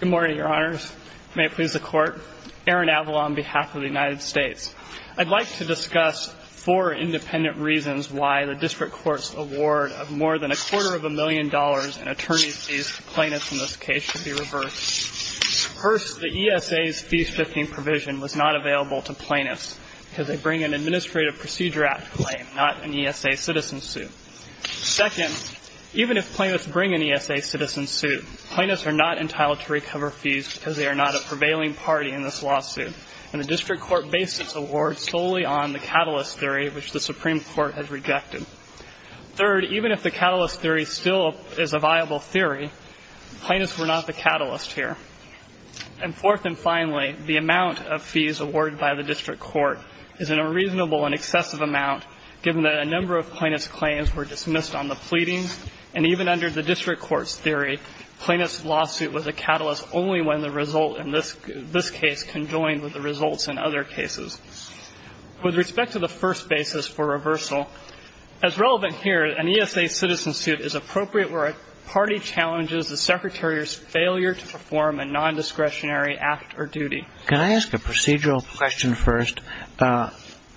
Good morning, your honors. May it please the court. Aaron Avila on behalf of the United States. I'd like to discuss four independent reasons why the district court's award of more than a quarter of a million dollars in attorney's fees to plaintiffs in this case should be reversed. First, the ESA's fee shifting provision was not available to plaintiffs because they bring an Administrative Procedure Act claim, not an ESA citizen suit. Second, even if plaintiffs bring an ESA citizen suit, plaintiffs are not entitled to recover fees because they are not a prevailing party in this lawsuit. And the district court based its award solely on the catalyst theory, which the Supreme Court has rejected. Third, even if the catalyst theory still is a viable theory, plaintiffs were not the catalyst here. And fourth and finally, the amount of fees awarded by the district court is an unreasonable and excessive amount, given that a number of plaintiffs' claims were dismissed on the pleadings. And even under the district court's theory, plaintiffs' lawsuit was a catalyst only when the result in this case conjoined with the results in other cases. With respect to the first basis for reversal, as relevant here, an ESA citizen suit is appropriate where a party challenges the secretary's failure to perform a nondiscretionary act or duty. Can I ask a procedural question first?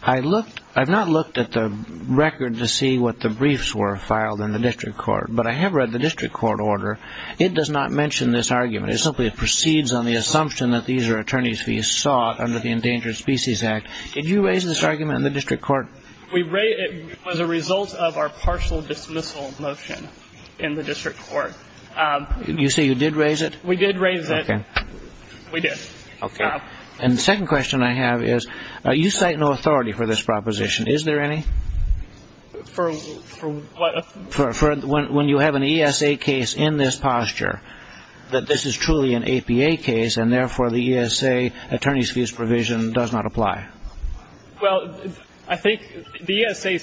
I've not looked at the record to see what the briefs were filed in the district court, but I have read the district court order. It does not mention this argument. It simply proceeds on the assumption that these are attorneys fees sought under the Endangered Species Act. Did you raise this argument in the district court? It was a result of our partial dismissal motion in the district court. You say you did raise it? We did raise it. Okay. We did. Okay. And the second question I have is, you cite no authority for this proposition. Is there any? For what? For when you have an ESA case in this posture, that this is truly an APA case, and therefore the ESA attorney's fees provision does not apply. Well, I think the ESA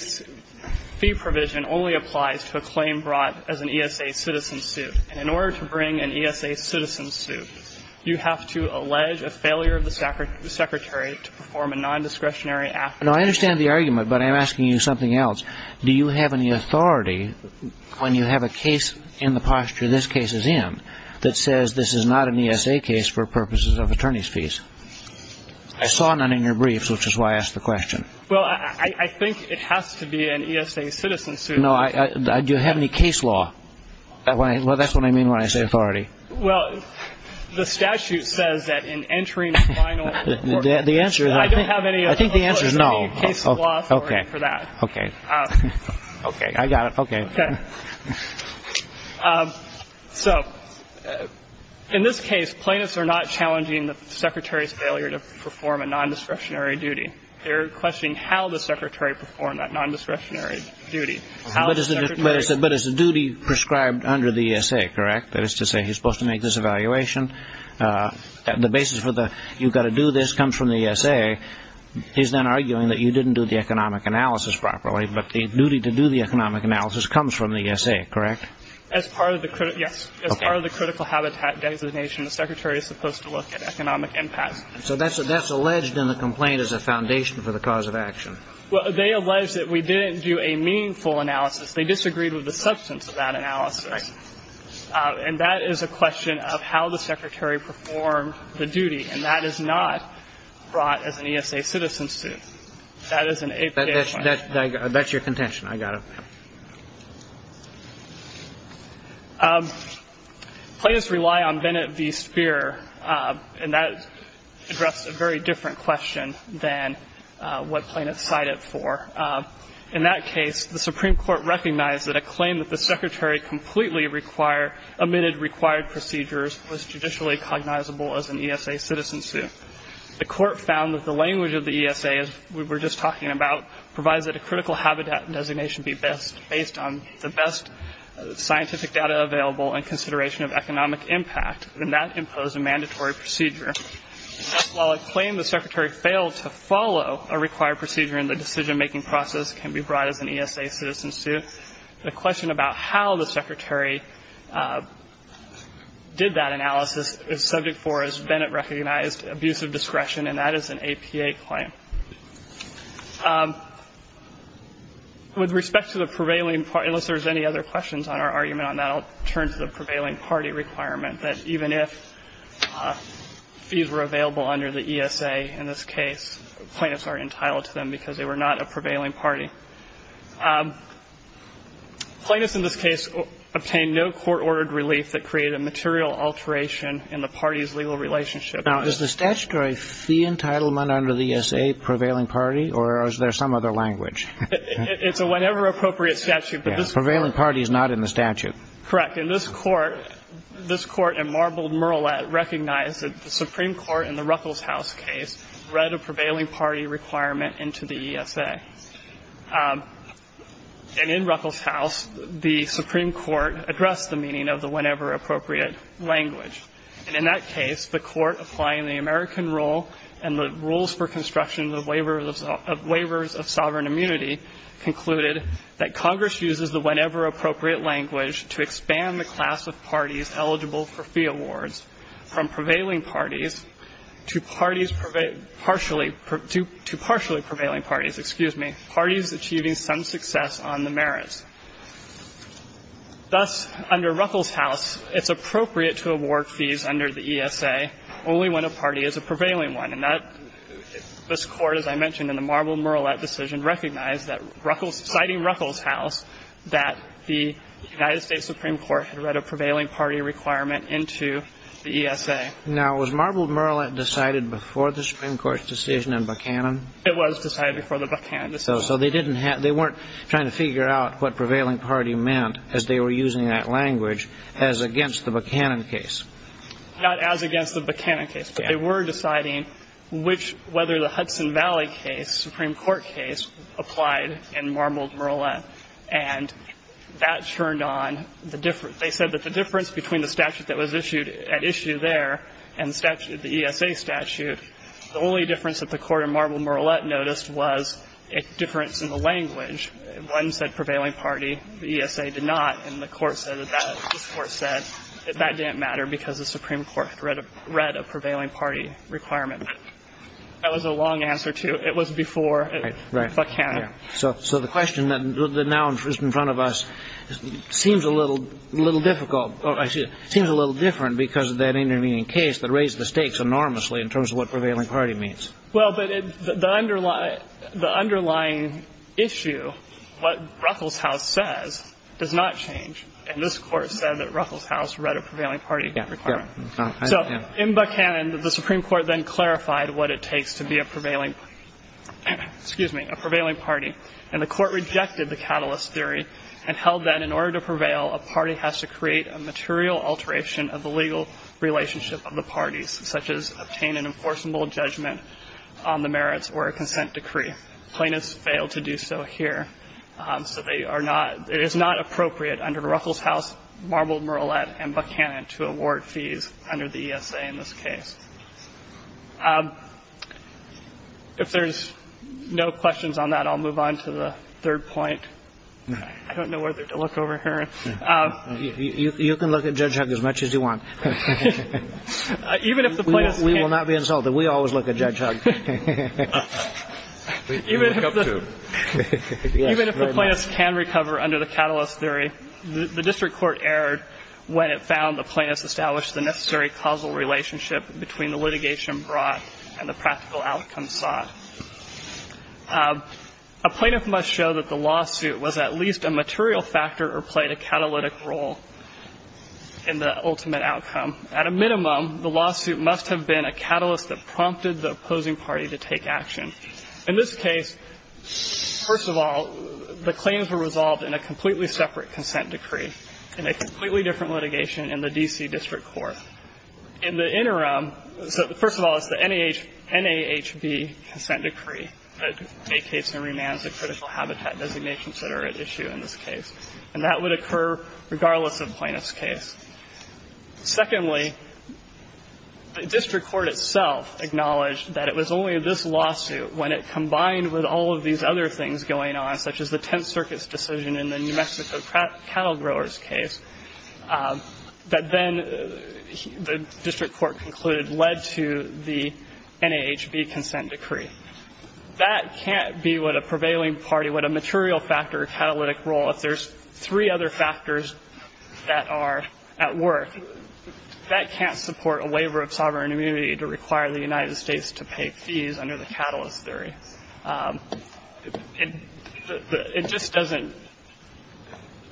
fee provision only applies to a claim brought as an ESA citizen suit. And in order to bring an ESA citizen suit, you have to allege a failure of the secretary to perform a nondiscretionary act. Now, I understand the argument, but I'm asking you something else. Do you have any authority when you have a case in the posture this case is in that says this is not an ESA case for purposes of attorney's fees? I saw none in your briefs, which is why I asked the question. Well, I think it has to be an ESA citizen suit. No. Do you have any case law? Well, that's what I mean when I say authority. Well, the statute says that in entering final court. The answer is I think the answer is no. I don't have any case law authority for that. Okay. Okay. Okay. I got it. Okay. Okay. So in this case, plaintiffs are not challenging the secretary's failure to perform a nondiscretionary duty. They're questioning how the secretary performed that nondiscretionary duty. But it's a duty prescribed under the ESA, correct? That is to say he's supposed to make this evaluation. The basis for the you've got to do this comes from the ESA. He's then arguing that you didn't do the economic analysis properly, but the duty to do the economic analysis comes from the ESA, correct? As part of the critical habitat designation, the secretary is supposed to look at economic impact. So that's alleged in the complaint as a foundation for the cause of action. Well, they allege that we didn't do a meaningful analysis. They disagreed with the substance of that analysis. Right. And that is a question of how the secretary performed the duty. And that is not brought as an ESA citizen suit. That is an APA claim. That's your contention. I got it. Okay. Plaintiffs rely on Bennett v. Speer, and that addresses a very different question than what plaintiffs cite it for. In that case, the Supreme Court recognized that a claim that the secretary completely omitted required procedures was judicially cognizable as an ESA citizen suit. The court found that the language of the ESA, as we were just talking about, provides that a critical habitat designation be based on the best scientific data available and consideration of economic impact, and that imposed a mandatory procedure. While a claim the secretary failed to follow a required procedure in the decision-making process can be brought as an ESA citizen suit, the question about how the secretary did that analysis is subject for, as Bennett recognized, abusive discretion, and that is an APA claim. With respect to the prevailing party, unless there's any other questions on our argument on that, I'll turn to the prevailing party requirement, that even if fees were available under the ESA in this case, plaintiffs are entitled to them because they were not a prevailing party. Plaintiffs in this case obtained no court-ordered relief that created a material alteration in the party's legal relationship. Now, is the statutory fee entitlement under the ESA prevailing party, or is there some other language? It's a whatever appropriate statute. Prevailing party is not in the statute. Correct. And this Court, this Court in Marbled, Murlatt, recognized that the Supreme Court in the Ruckelshaus case read a prevailing party requirement into the ESA. And in Ruckelshaus, the Supreme Court addressed the meaning of the whenever appropriate language. And in that case, the Court applying the American rule and the rules for construction of the waivers of sovereign immunity concluded that Congress uses the whenever appropriate language to expand the class of parties eligible for fee awards. From prevailing parties to parties, partially, to partially prevailing parties, excuse me, parties achieving some success on the merits. Thus, under Ruckelshaus, it's appropriate to award fees under the ESA only when a party is a prevailing one. And that, this Court, as I mentioned in the Marbled, Murlatt decision, recognized that Ruckelshaus, citing Ruckelshaus, that the United States Supreme Court had read a prevailing party requirement into the ESA. Now, was Marbled, Murlatt decided before the Supreme Court's decision in Buchanan? It was decided before the Buchanan decision. So they didn't have, they weren't trying to figure out what prevailing party meant as they were using that language as against the Buchanan case. Not as against the Buchanan case, but they were deciding which, whether the Hudson Valley case, Supreme Court case, applied in Marbled, Murlatt. And that turned on the difference. They said that the difference between the statute that was issued, at issue there, and the statute, the ESA statute, the only difference that the Court in Marbled, Murlatt noticed was a difference in the language. One said prevailing party. The ESA did not. And the Court said that that, this Court said that that didn't matter because the Supreme Court had read a prevailing party requirement. That was a long answer, too. It was before Buchanan. So the question that now is in front of us seems a little difficult, seems a little different because of that intervening case that raised the stakes enormously in terms of what prevailing party means. Well, but the underlying issue, what Ruffles House says, does not change. And this Court said that Ruffles House read a prevailing party requirement. So in Buchanan, the Supreme Court then clarified what it takes to be a prevailing party. And the Court rejected the catalyst theory and held that in order to prevail, a party has to create a material alteration of the legal relationship of the parties, such as obtain an enforceable judgment on the merits or a consent decree. Plaintiffs failed to do so here. So they are not, it is not appropriate under Ruffles House, Marbled, Murlatt, and Buchanan to award fees under the ESA in this case. If there's no questions on that, I'll move on to the third point. I don't know whether to look over here. You can look at Judge Hugg as much as you want. Even if the plaintiffs can't. We will not be insulted. We always look at Judge Hugg. Even if the plaintiffs can recover under the catalyst theory, the District Court erred when it found the plaintiffs established the necessary causal relationship between the litigation brought and the practical outcome sought. A plaintiff must show that the lawsuit was at least a material factor or played a catalytic role in the ultimate outcome. At a minimum, the lawsuit must have been a catalyst that prompted the opposing party to take action. In this case, first of all, the claims were resolved in a completely separate consent decree, in a completely different litigation in the D.C. District Court. In the interim, so first of all, it's the NAHB consent decree that vacates and remands the critical habitat designations that are at issue in this case. And that would occur regardless of plaintiff's case. Secondly, the District Court itself acknowledged that it was only this lawsuit when it combined with all of these other things going on, such as the Tenth Circuit's decision in the New Mexico Cattle Growers case, that then the District Court concluded led to the NAHB consent decree. That can't be what a prevailing party, what a material factor or catalytic role, if there's three other factors that are at work. That can't support a waiver of sovereign immunity to require the United States to pay fees under the catalyst theory. It just doesn't,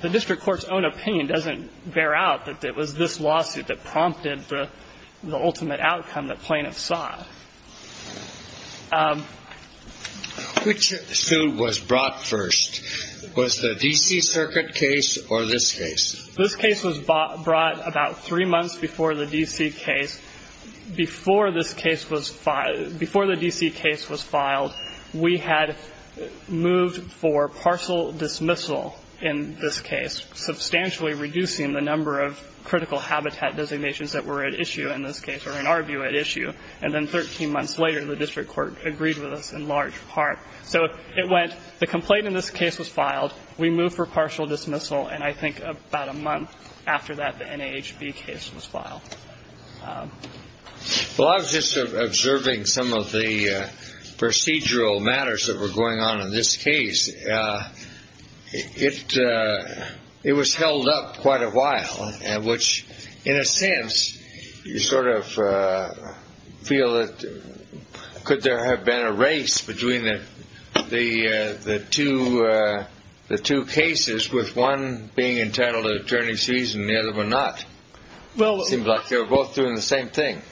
the District Court's own opinion doesn't bear out that it was this lawsuit that prompted the ultimate outcome that plaintiffs saw. Which suit was brought first? Was the D.C. Circuit case or this case? This case was brought about three months before the D.C. case, because before this case was filed, before the D.C. case was filed, we had moved for partial dismissal in this case, substantially reducing the number of critical habitat designations that were at issue in this case, or in our view, at issue. And then 13 months later, the District Court agreed with us in large part. So it went, the complaint in this case was filed, we moved for partial dismissal, and I think about a month after that, the NAHB case was filed. Well, I was just observing some of the procedural matters that were going on in this case. It was held up quite a while, which in a sense, you sort of feel that could there have been a race between the two cases with one being entitled to an attorney's season and the other one not? It seems like they were both doing the same thing.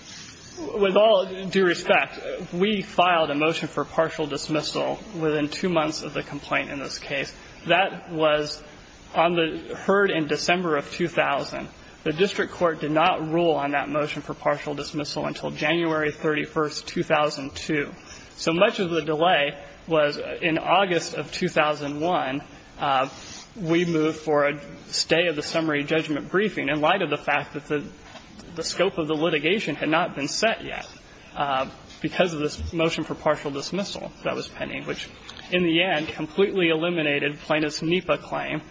With all due respect, we filed a motion for partial dismissal within two months of the complaint in this case. That was on the Heard in December of 2000. The District Court did not rule on that motion for partial dismissal until January 31, 2002. So much of the delay was in August of 2001, we moved for a stay of the summary judgment briefing in light of the fact that the scope of the litigation had not been set yet because of this motion for partial dismissal that was pending, which in the end completely eliminated Plaintiff's NEPA claim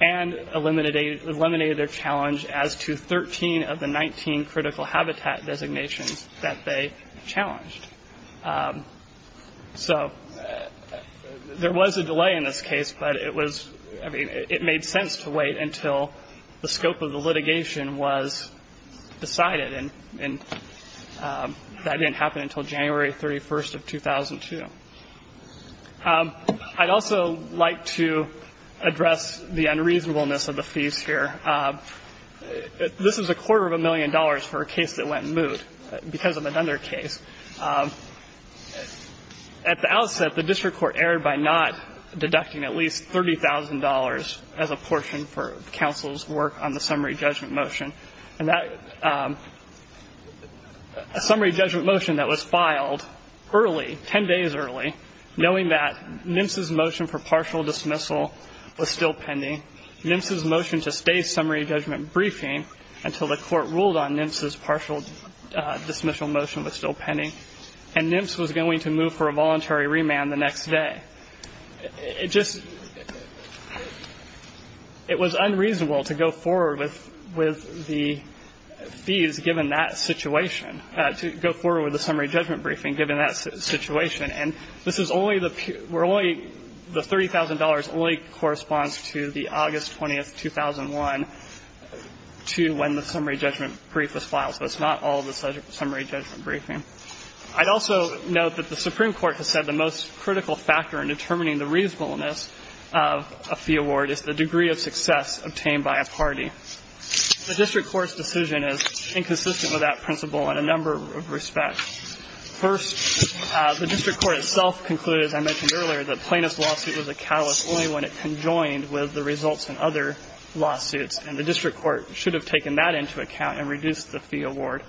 and eliminated their challenge as to 13 of the 19 critical habitat designations that they challenged. So there was a delay in this case, but it was, I mean, it made sense to wait until the scope of the litigation was decided. And that didn't happen until January 31st of 2002. I'd also like to address the unreasonableness of the fees here. This is a quarter of a million dollars for a case that went moot because of another case. At the outset, the District Court erred by not deducting at least $30,000 as a portion for counsel's work on the summary judgment motion. And that summary judgment motion that was filed early, 10 days early, knowing that NMSE's motion for partial dismissal was still pending, NMSE's motion to stay summary judgment briefing until the court ruled on NMSE's partial dismissal motion was still pending, and NMSE was going to move for a voluntary remand the next day. It just, it was unreasonable to go forward with the fees given that situation, to go forward with the summary judgment briefing given that situation. And this is only the, where only the $30,000 only corresponds to the August 20th, 2001, to when the summary judgment brief was filed. So it's not all the summary judgment briefing. I'd also note that the Supreme Court has said the most critical factor in determining the reasonableness of a fee award is the degree of success obtained by a party. The District Court's decision is inconsistent with that principle in a number of respects. First, the District Court itself concluded, as I mentioned earlier, that plaintiff's lawsuit was a catalyst only when it conjoined with the results in other lawsuits, and the District Court should have taken that into account and reduced the fee award.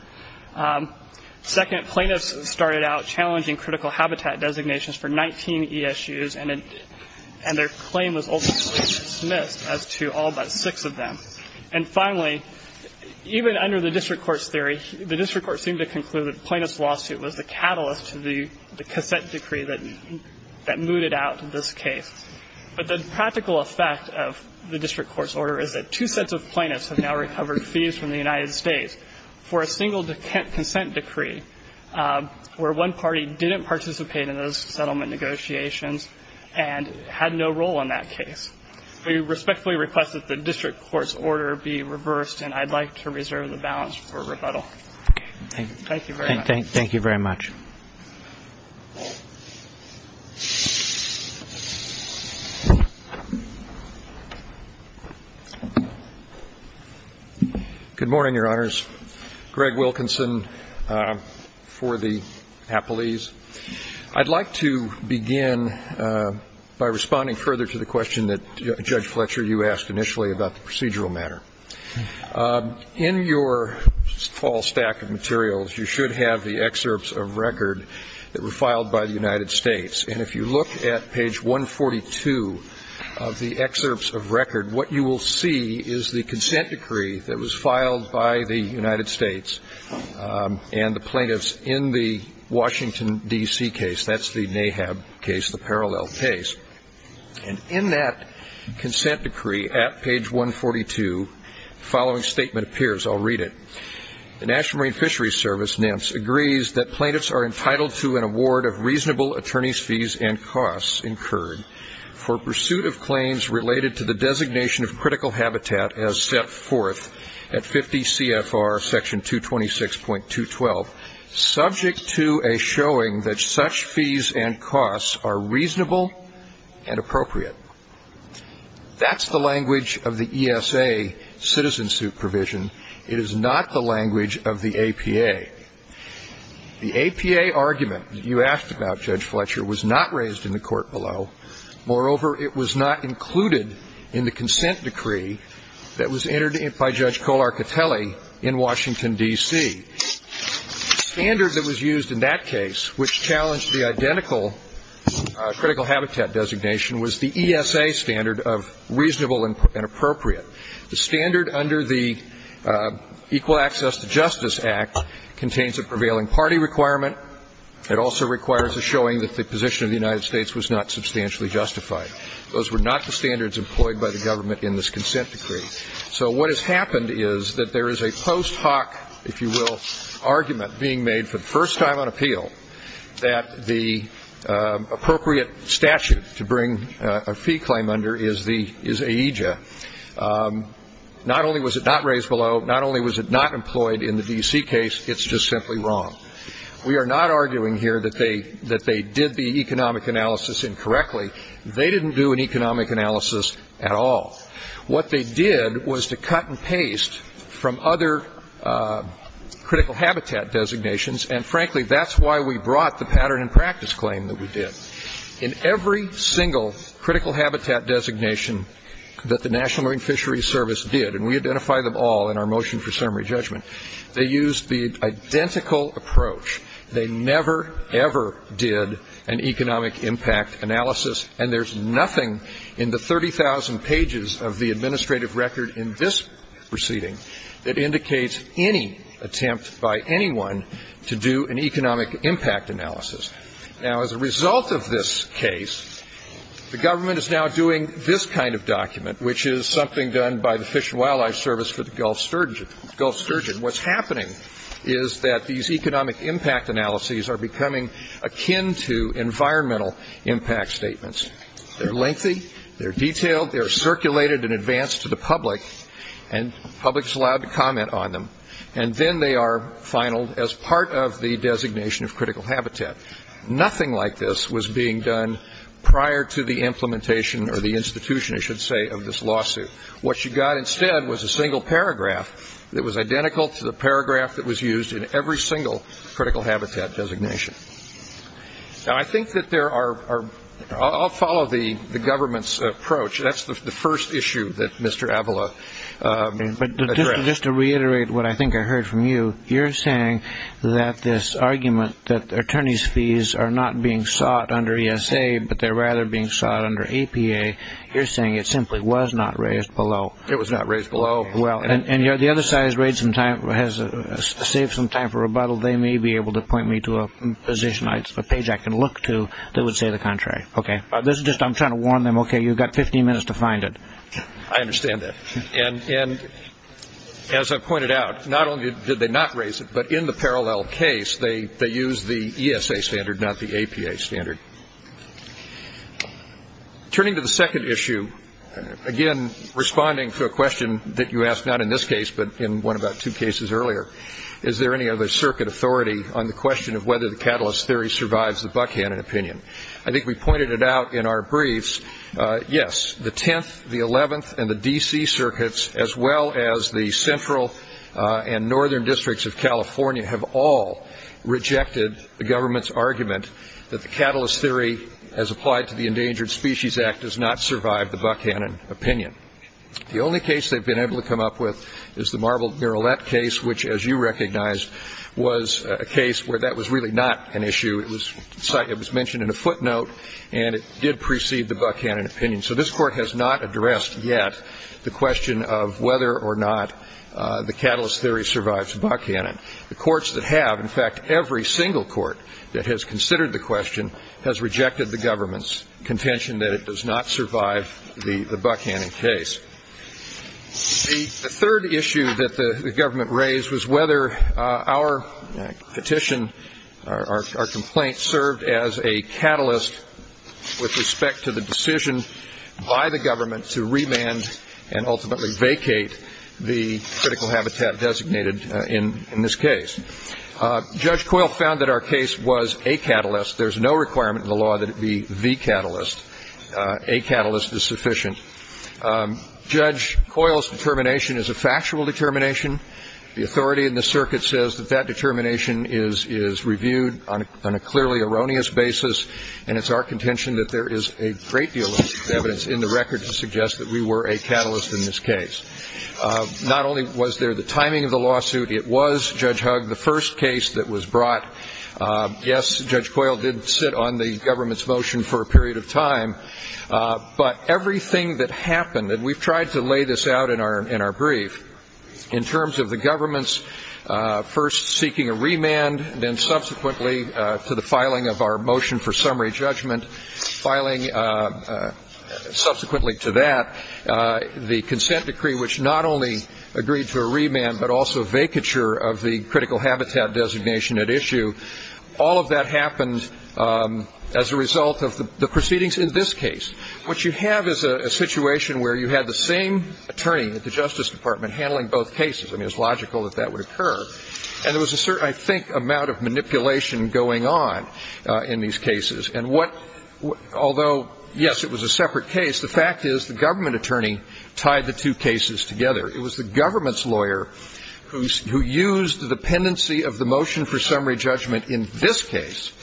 Second, plaintiffs started out challenging critical habitat designations for 19 ESUs, and their claim was ultimately dismissed as to all but six of them. And finally, even under the District Court's theory, the District Court seemed to conclude that plaintiff's lawsuit was the catalyst to the consent decree that mooted out this case. But the practical effect of the District Court's order is that two sets of plaintiffs have now recovered fees from the United States for a single consent decree where one party didn't participate in those settlement negotiations and had no role in that case. We respectfully request that the District Court's order be reversed, and I'd like to reserve the balance for rebuttal. Thank you very much. Thank you very much. Good morning, Your Honors. Greg Wilkinson for the Appellees. I'd like to begin by responding further to the question that Judge Fletcher, you asked initially about the procedural matter. In your fall stack of materials, you should have the excerpts of record that were filed by the United States. And if you look at page 142 of the excerpts of record, what you will see is the consent decree that was filed by the United States and the plaintiffs in the Washington, D.C. case. That's the NAHAB case, the parallel case. And in that consent decree at page 142, the following statement appears. I'll read it. The National Marine Fisheries Service, NIMS, agrees that plaintiffs are entitled to an award of reasonable attorney's fees and costs incurred for pursuit of claims related to the designation of critical habitat as set forth at 50 CFR section 226.212, subject to a showing that such fees and costs are reasonable and appropriate. That's the language of the ESA citizen suit provision. It is not the language of the APA. The APA argument that you asked about, Judge Fletcher, was not raised in the court below. Moreover, it was not included in the consent decree that was entered by Judge Kolarkatelli in Washington, D.C. The standard that was used in that case, which challenged the identical critical habitat designation, was the ESA standard of reasonable and appropriate. The standard under the Equal Access to Justice Act contains a prevailing party requirement. It also requires a showing that the position of the United States was not substantially justified. Those were not the standards employed by the government in this consent decree. So what has happened is that there is a post hoc, if you will, argument being made for the first time on appeal that the appropriate statute to bring a fee claim under is the AEJA. Not only was it not raised below, not only was it not employed in the D.C. case, it's just simply wrong. We are not arguing here that they did the economic analysis incorrectly. They didn't do an economic analysis at all. What they did was to cut and paste from other critical habitat designations, and frankly, that's why we brought the pattern and practice claim that we did. In every single critical habitat designation that the National Marine Fisheries Service did, and we identify them all in our motion for summary judgment, they used the identical approach. They never, ever did an economic impact analysis, and there's nothing in the 30,000 pages of the administrative record in this proceeding that indicates any attempt by anyone to do an economic impact analysis. Now, as a result of this case, the government is now doing this kind of document, which is something done by the Fish and Wildlife Service for the Gulf Sturgeon. What's happening is that these economic impact analyses are becoming akin to environmental impact statements. They're lengthy. They're detailed. They're circulated in advance to the public, and the public is allowed to comment on them, and then they are finaled as part of the designation of critical habitat. Nothing like this was being done prior to the implementation or the institution, I should say, of this lawsuit. What you got instead was a single paragraph that was identical to the paragraph that was used in every single critical habitat designation. Now, I think that there are – I'll follow the government's approach. That's the first issue that Mr. Avila addressed. But just to reiterate what I think I heard from you, you're saying that this argument that attorney's fees are not being sought under ESA, but they're rather being sought under APA, you're saying it simply was not raised below. It was not raised below. Well, and the other side has saved some time for rebuttal. They may be able to point me to a position, a page I can look to that would say the contrary. Okay. This is just – I'm trying to warn them, okay, you've got 15 minutes to find it. I understand that. And as I pointed out, not only did they not raise it, but in the parallel case, they used the ESA standard, not the APA standard. Turning to the second issue, again, responding to a question that you asked not in this case, but in one about two cases earlier, is there any other circuit authority on the question of whether the catalyst theory survives the Buckhannon opinion? I think we pointed it out in our briefs. Yes, the 10th, the 11th, and the D.C. circuits, as well as the central and northern districts of California have all rejected the government's argument that the catalyst theory, as applied to the Endangered Species Act, does not survive the Buckhannon opinion. The only case they've been able to come up with is the Marble Miralette case, which, as you recognized, was a case where that was really not an issue. It was mentioned in a footnote, and it did precede the Buckhannon opinion. So this Court has not addressed yet the question of whether or not the catalyst theory survives Buckhannon. The courts that have, in fact, every single court that has considered the question has rejected the government's contention that it does not survive the Buckhannon case. The third issue that the government raised was whether our petition, our complaint, served as a catalyst with respect to the decision by the government to remand and ultimately vacate the critical habitat designated in this case. Judge Coyle found that our case was a catalyst. There's no requirement in the law that it be the catalyst. A catalyst is sufficient. Judge Coyle's determination is a factual determination. The authority in the circuit says that that determination is reviewed on a clearly erroneous basis, and it's our contention that there is a great deal of evidence in the record to suggest that we were a catalyst in this case. Not only was there the timing of the lawsuit, it was, Judge Hugg, the first case that was brought. Yes, Judge Coyle did sit on the government's motion for a period of time, but everything that happened, and we've tried to lay this out in our brief, in terms of the government's first seeking a remand, then subsequently to the filing of our motion for summary judgment, filing subsequently to that, the consent decree, which not only agreed to a remand, but also vacature of the critical habitat designation at issue, all of that happened as a result of the proceedings in this case. What you have is a situation where you had the same attorney at the Justice Department handling both cases. I mean, it's logical that that would occur. And there was a certain, I think, amount of manipulation going on in these cases. And what, although, yes, it was a separate case, the fact is the government attorney tied the two cases together. It was the government's lawyer who used the dependency of the motion for summary judgment in this case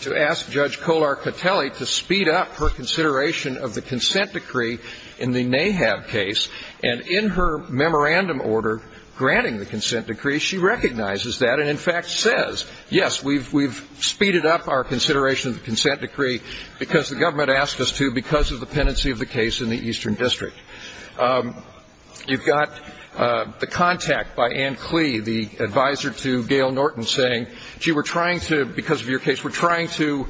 to ask Judge Kolar-Catelli to speed up her consideration of the consent decree in the NAHAB case. And in her memorandum order granting the consent decree, she recognizes that and, in fact, says, yes, we've speeded up our consideration of the consent decree because the government asked us to because of the dependency of the case in the Eastern District. You've got the contact by Ann Clee, the advisor to Gail Norton, saying, gee, we're trying to, because of your case, we're trying to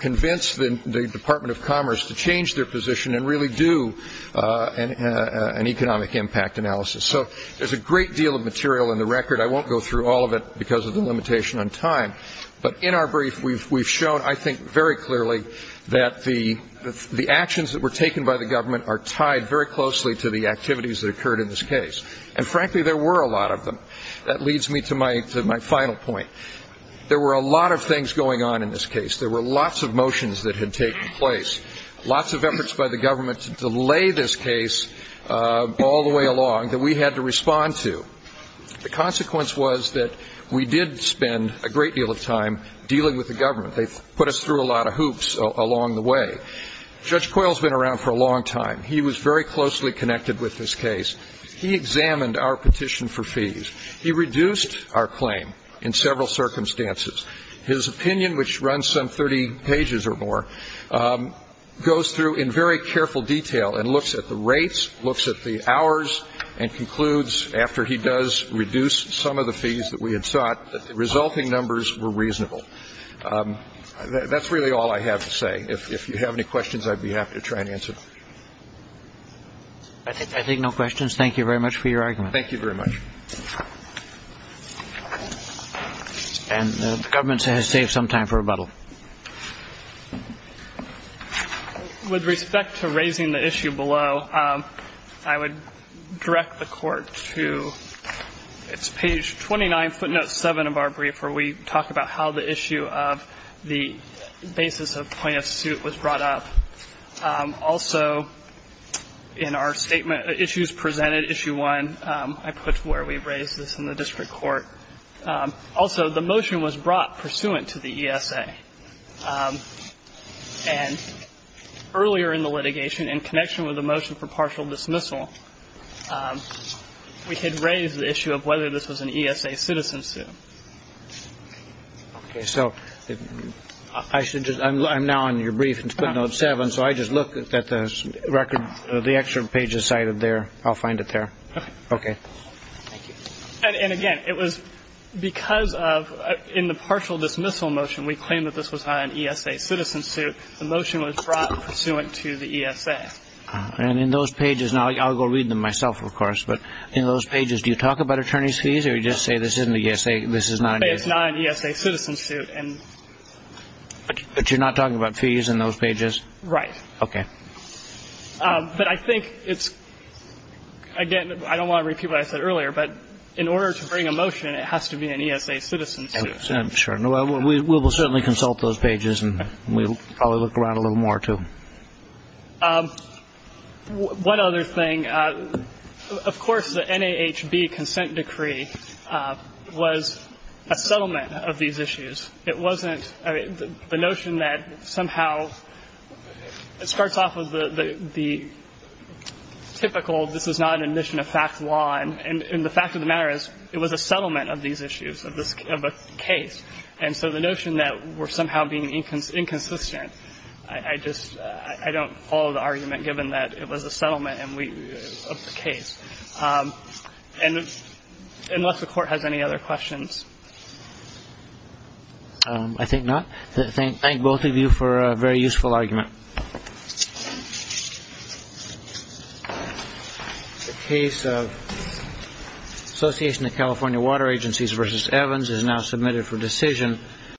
convince the Department of Commerce to change their position and really do an economic impact analysis. So there's a great deal of material in the record. I won't go through all of it because of the limitation on time. But in our brief, we've shown, I think, very clearly that the actions that were taken by the government are tied very closely to the activities that occurred in this case. And, frankly, there were a lot of them. That leads me to my final point. There were a lot of things going on in this case. There were lots of motions that had taken place, lots of efforts by the government to delay this case all the way along that we had to respond to. The consequence was that we did spend a great deal of time dealing with the government. They put us through a lot of hoops along the way. Judge Coyle has been around for a long time. He was very closely connected with this case. He examined our petition for fees. He reduced our claim in several circumstances. His opinion, which runs some 30 pages or more, goes through in very careful detail and looks at the rates, looks at the hours, and concludes, after he does reduce some of the fees that we had sought, that the resulting numbers were reasonable. That's really all I have to say. If you have any questions, I'd be happy to try and answer them. I take no questions. Thank you very much for your argument. Thank you very much. And the government has saved some time for rebuttal. With respect to raising the issue below, I would direct the court to page 29, footnote 7 of our brief, where we talk about how the issue of the basis of plaintiff's suit was brought up. Also, in our statement, issues presented, issue 1, I put where we raised this in the district court. Also, the motion was brought pursuant to the ESA. And earlier in the litigation, in connection with the motion for partial dismissal, we had raised the issue of whether this was an ESA citizen suit. Okay. So I should just ‑‑ I'm now on your brief in footnote 7, so I just look at the record, the extra pages cited there. I'll find it there. Okay. Okay. Thank you. And, again, it was because of ‑‑ in the partial dismissal motion, we claimed that this was not an ESA citizen suit. The motion was brought pursuant to the ESA. And in those pages, and I'll go read them myself, of course, but in those pages, do you talk about attorney's fees or do you just say this isn't an ESA? This is not an ESA. It's not an ESA citizen suit. But you're not talking about fees in those pages? Right. Okay. But I think it's, again, I don't want to repeat what I said earlier, but in order to bring a motion, it has to be an ESA citizen suit. I'm sure. We will certainly consult those pages, and we'll probably look around a little more, too. One other thing, of course, the NAHB consent decree was a settlement of these issues. The notion that somehow it starts off with the typical this is not an admission of fact law, and the fact of the matter is it was a settlement of these issues, of a case. And so the notion that we're somehow being inconsistent, I just don't follow the argument given that it was a settlement of the case. Unless the court has any other questions. I think not. Thank both of you for a very useful argument. The case of Association of California Water Agencies v. Evans is now submitted for decision.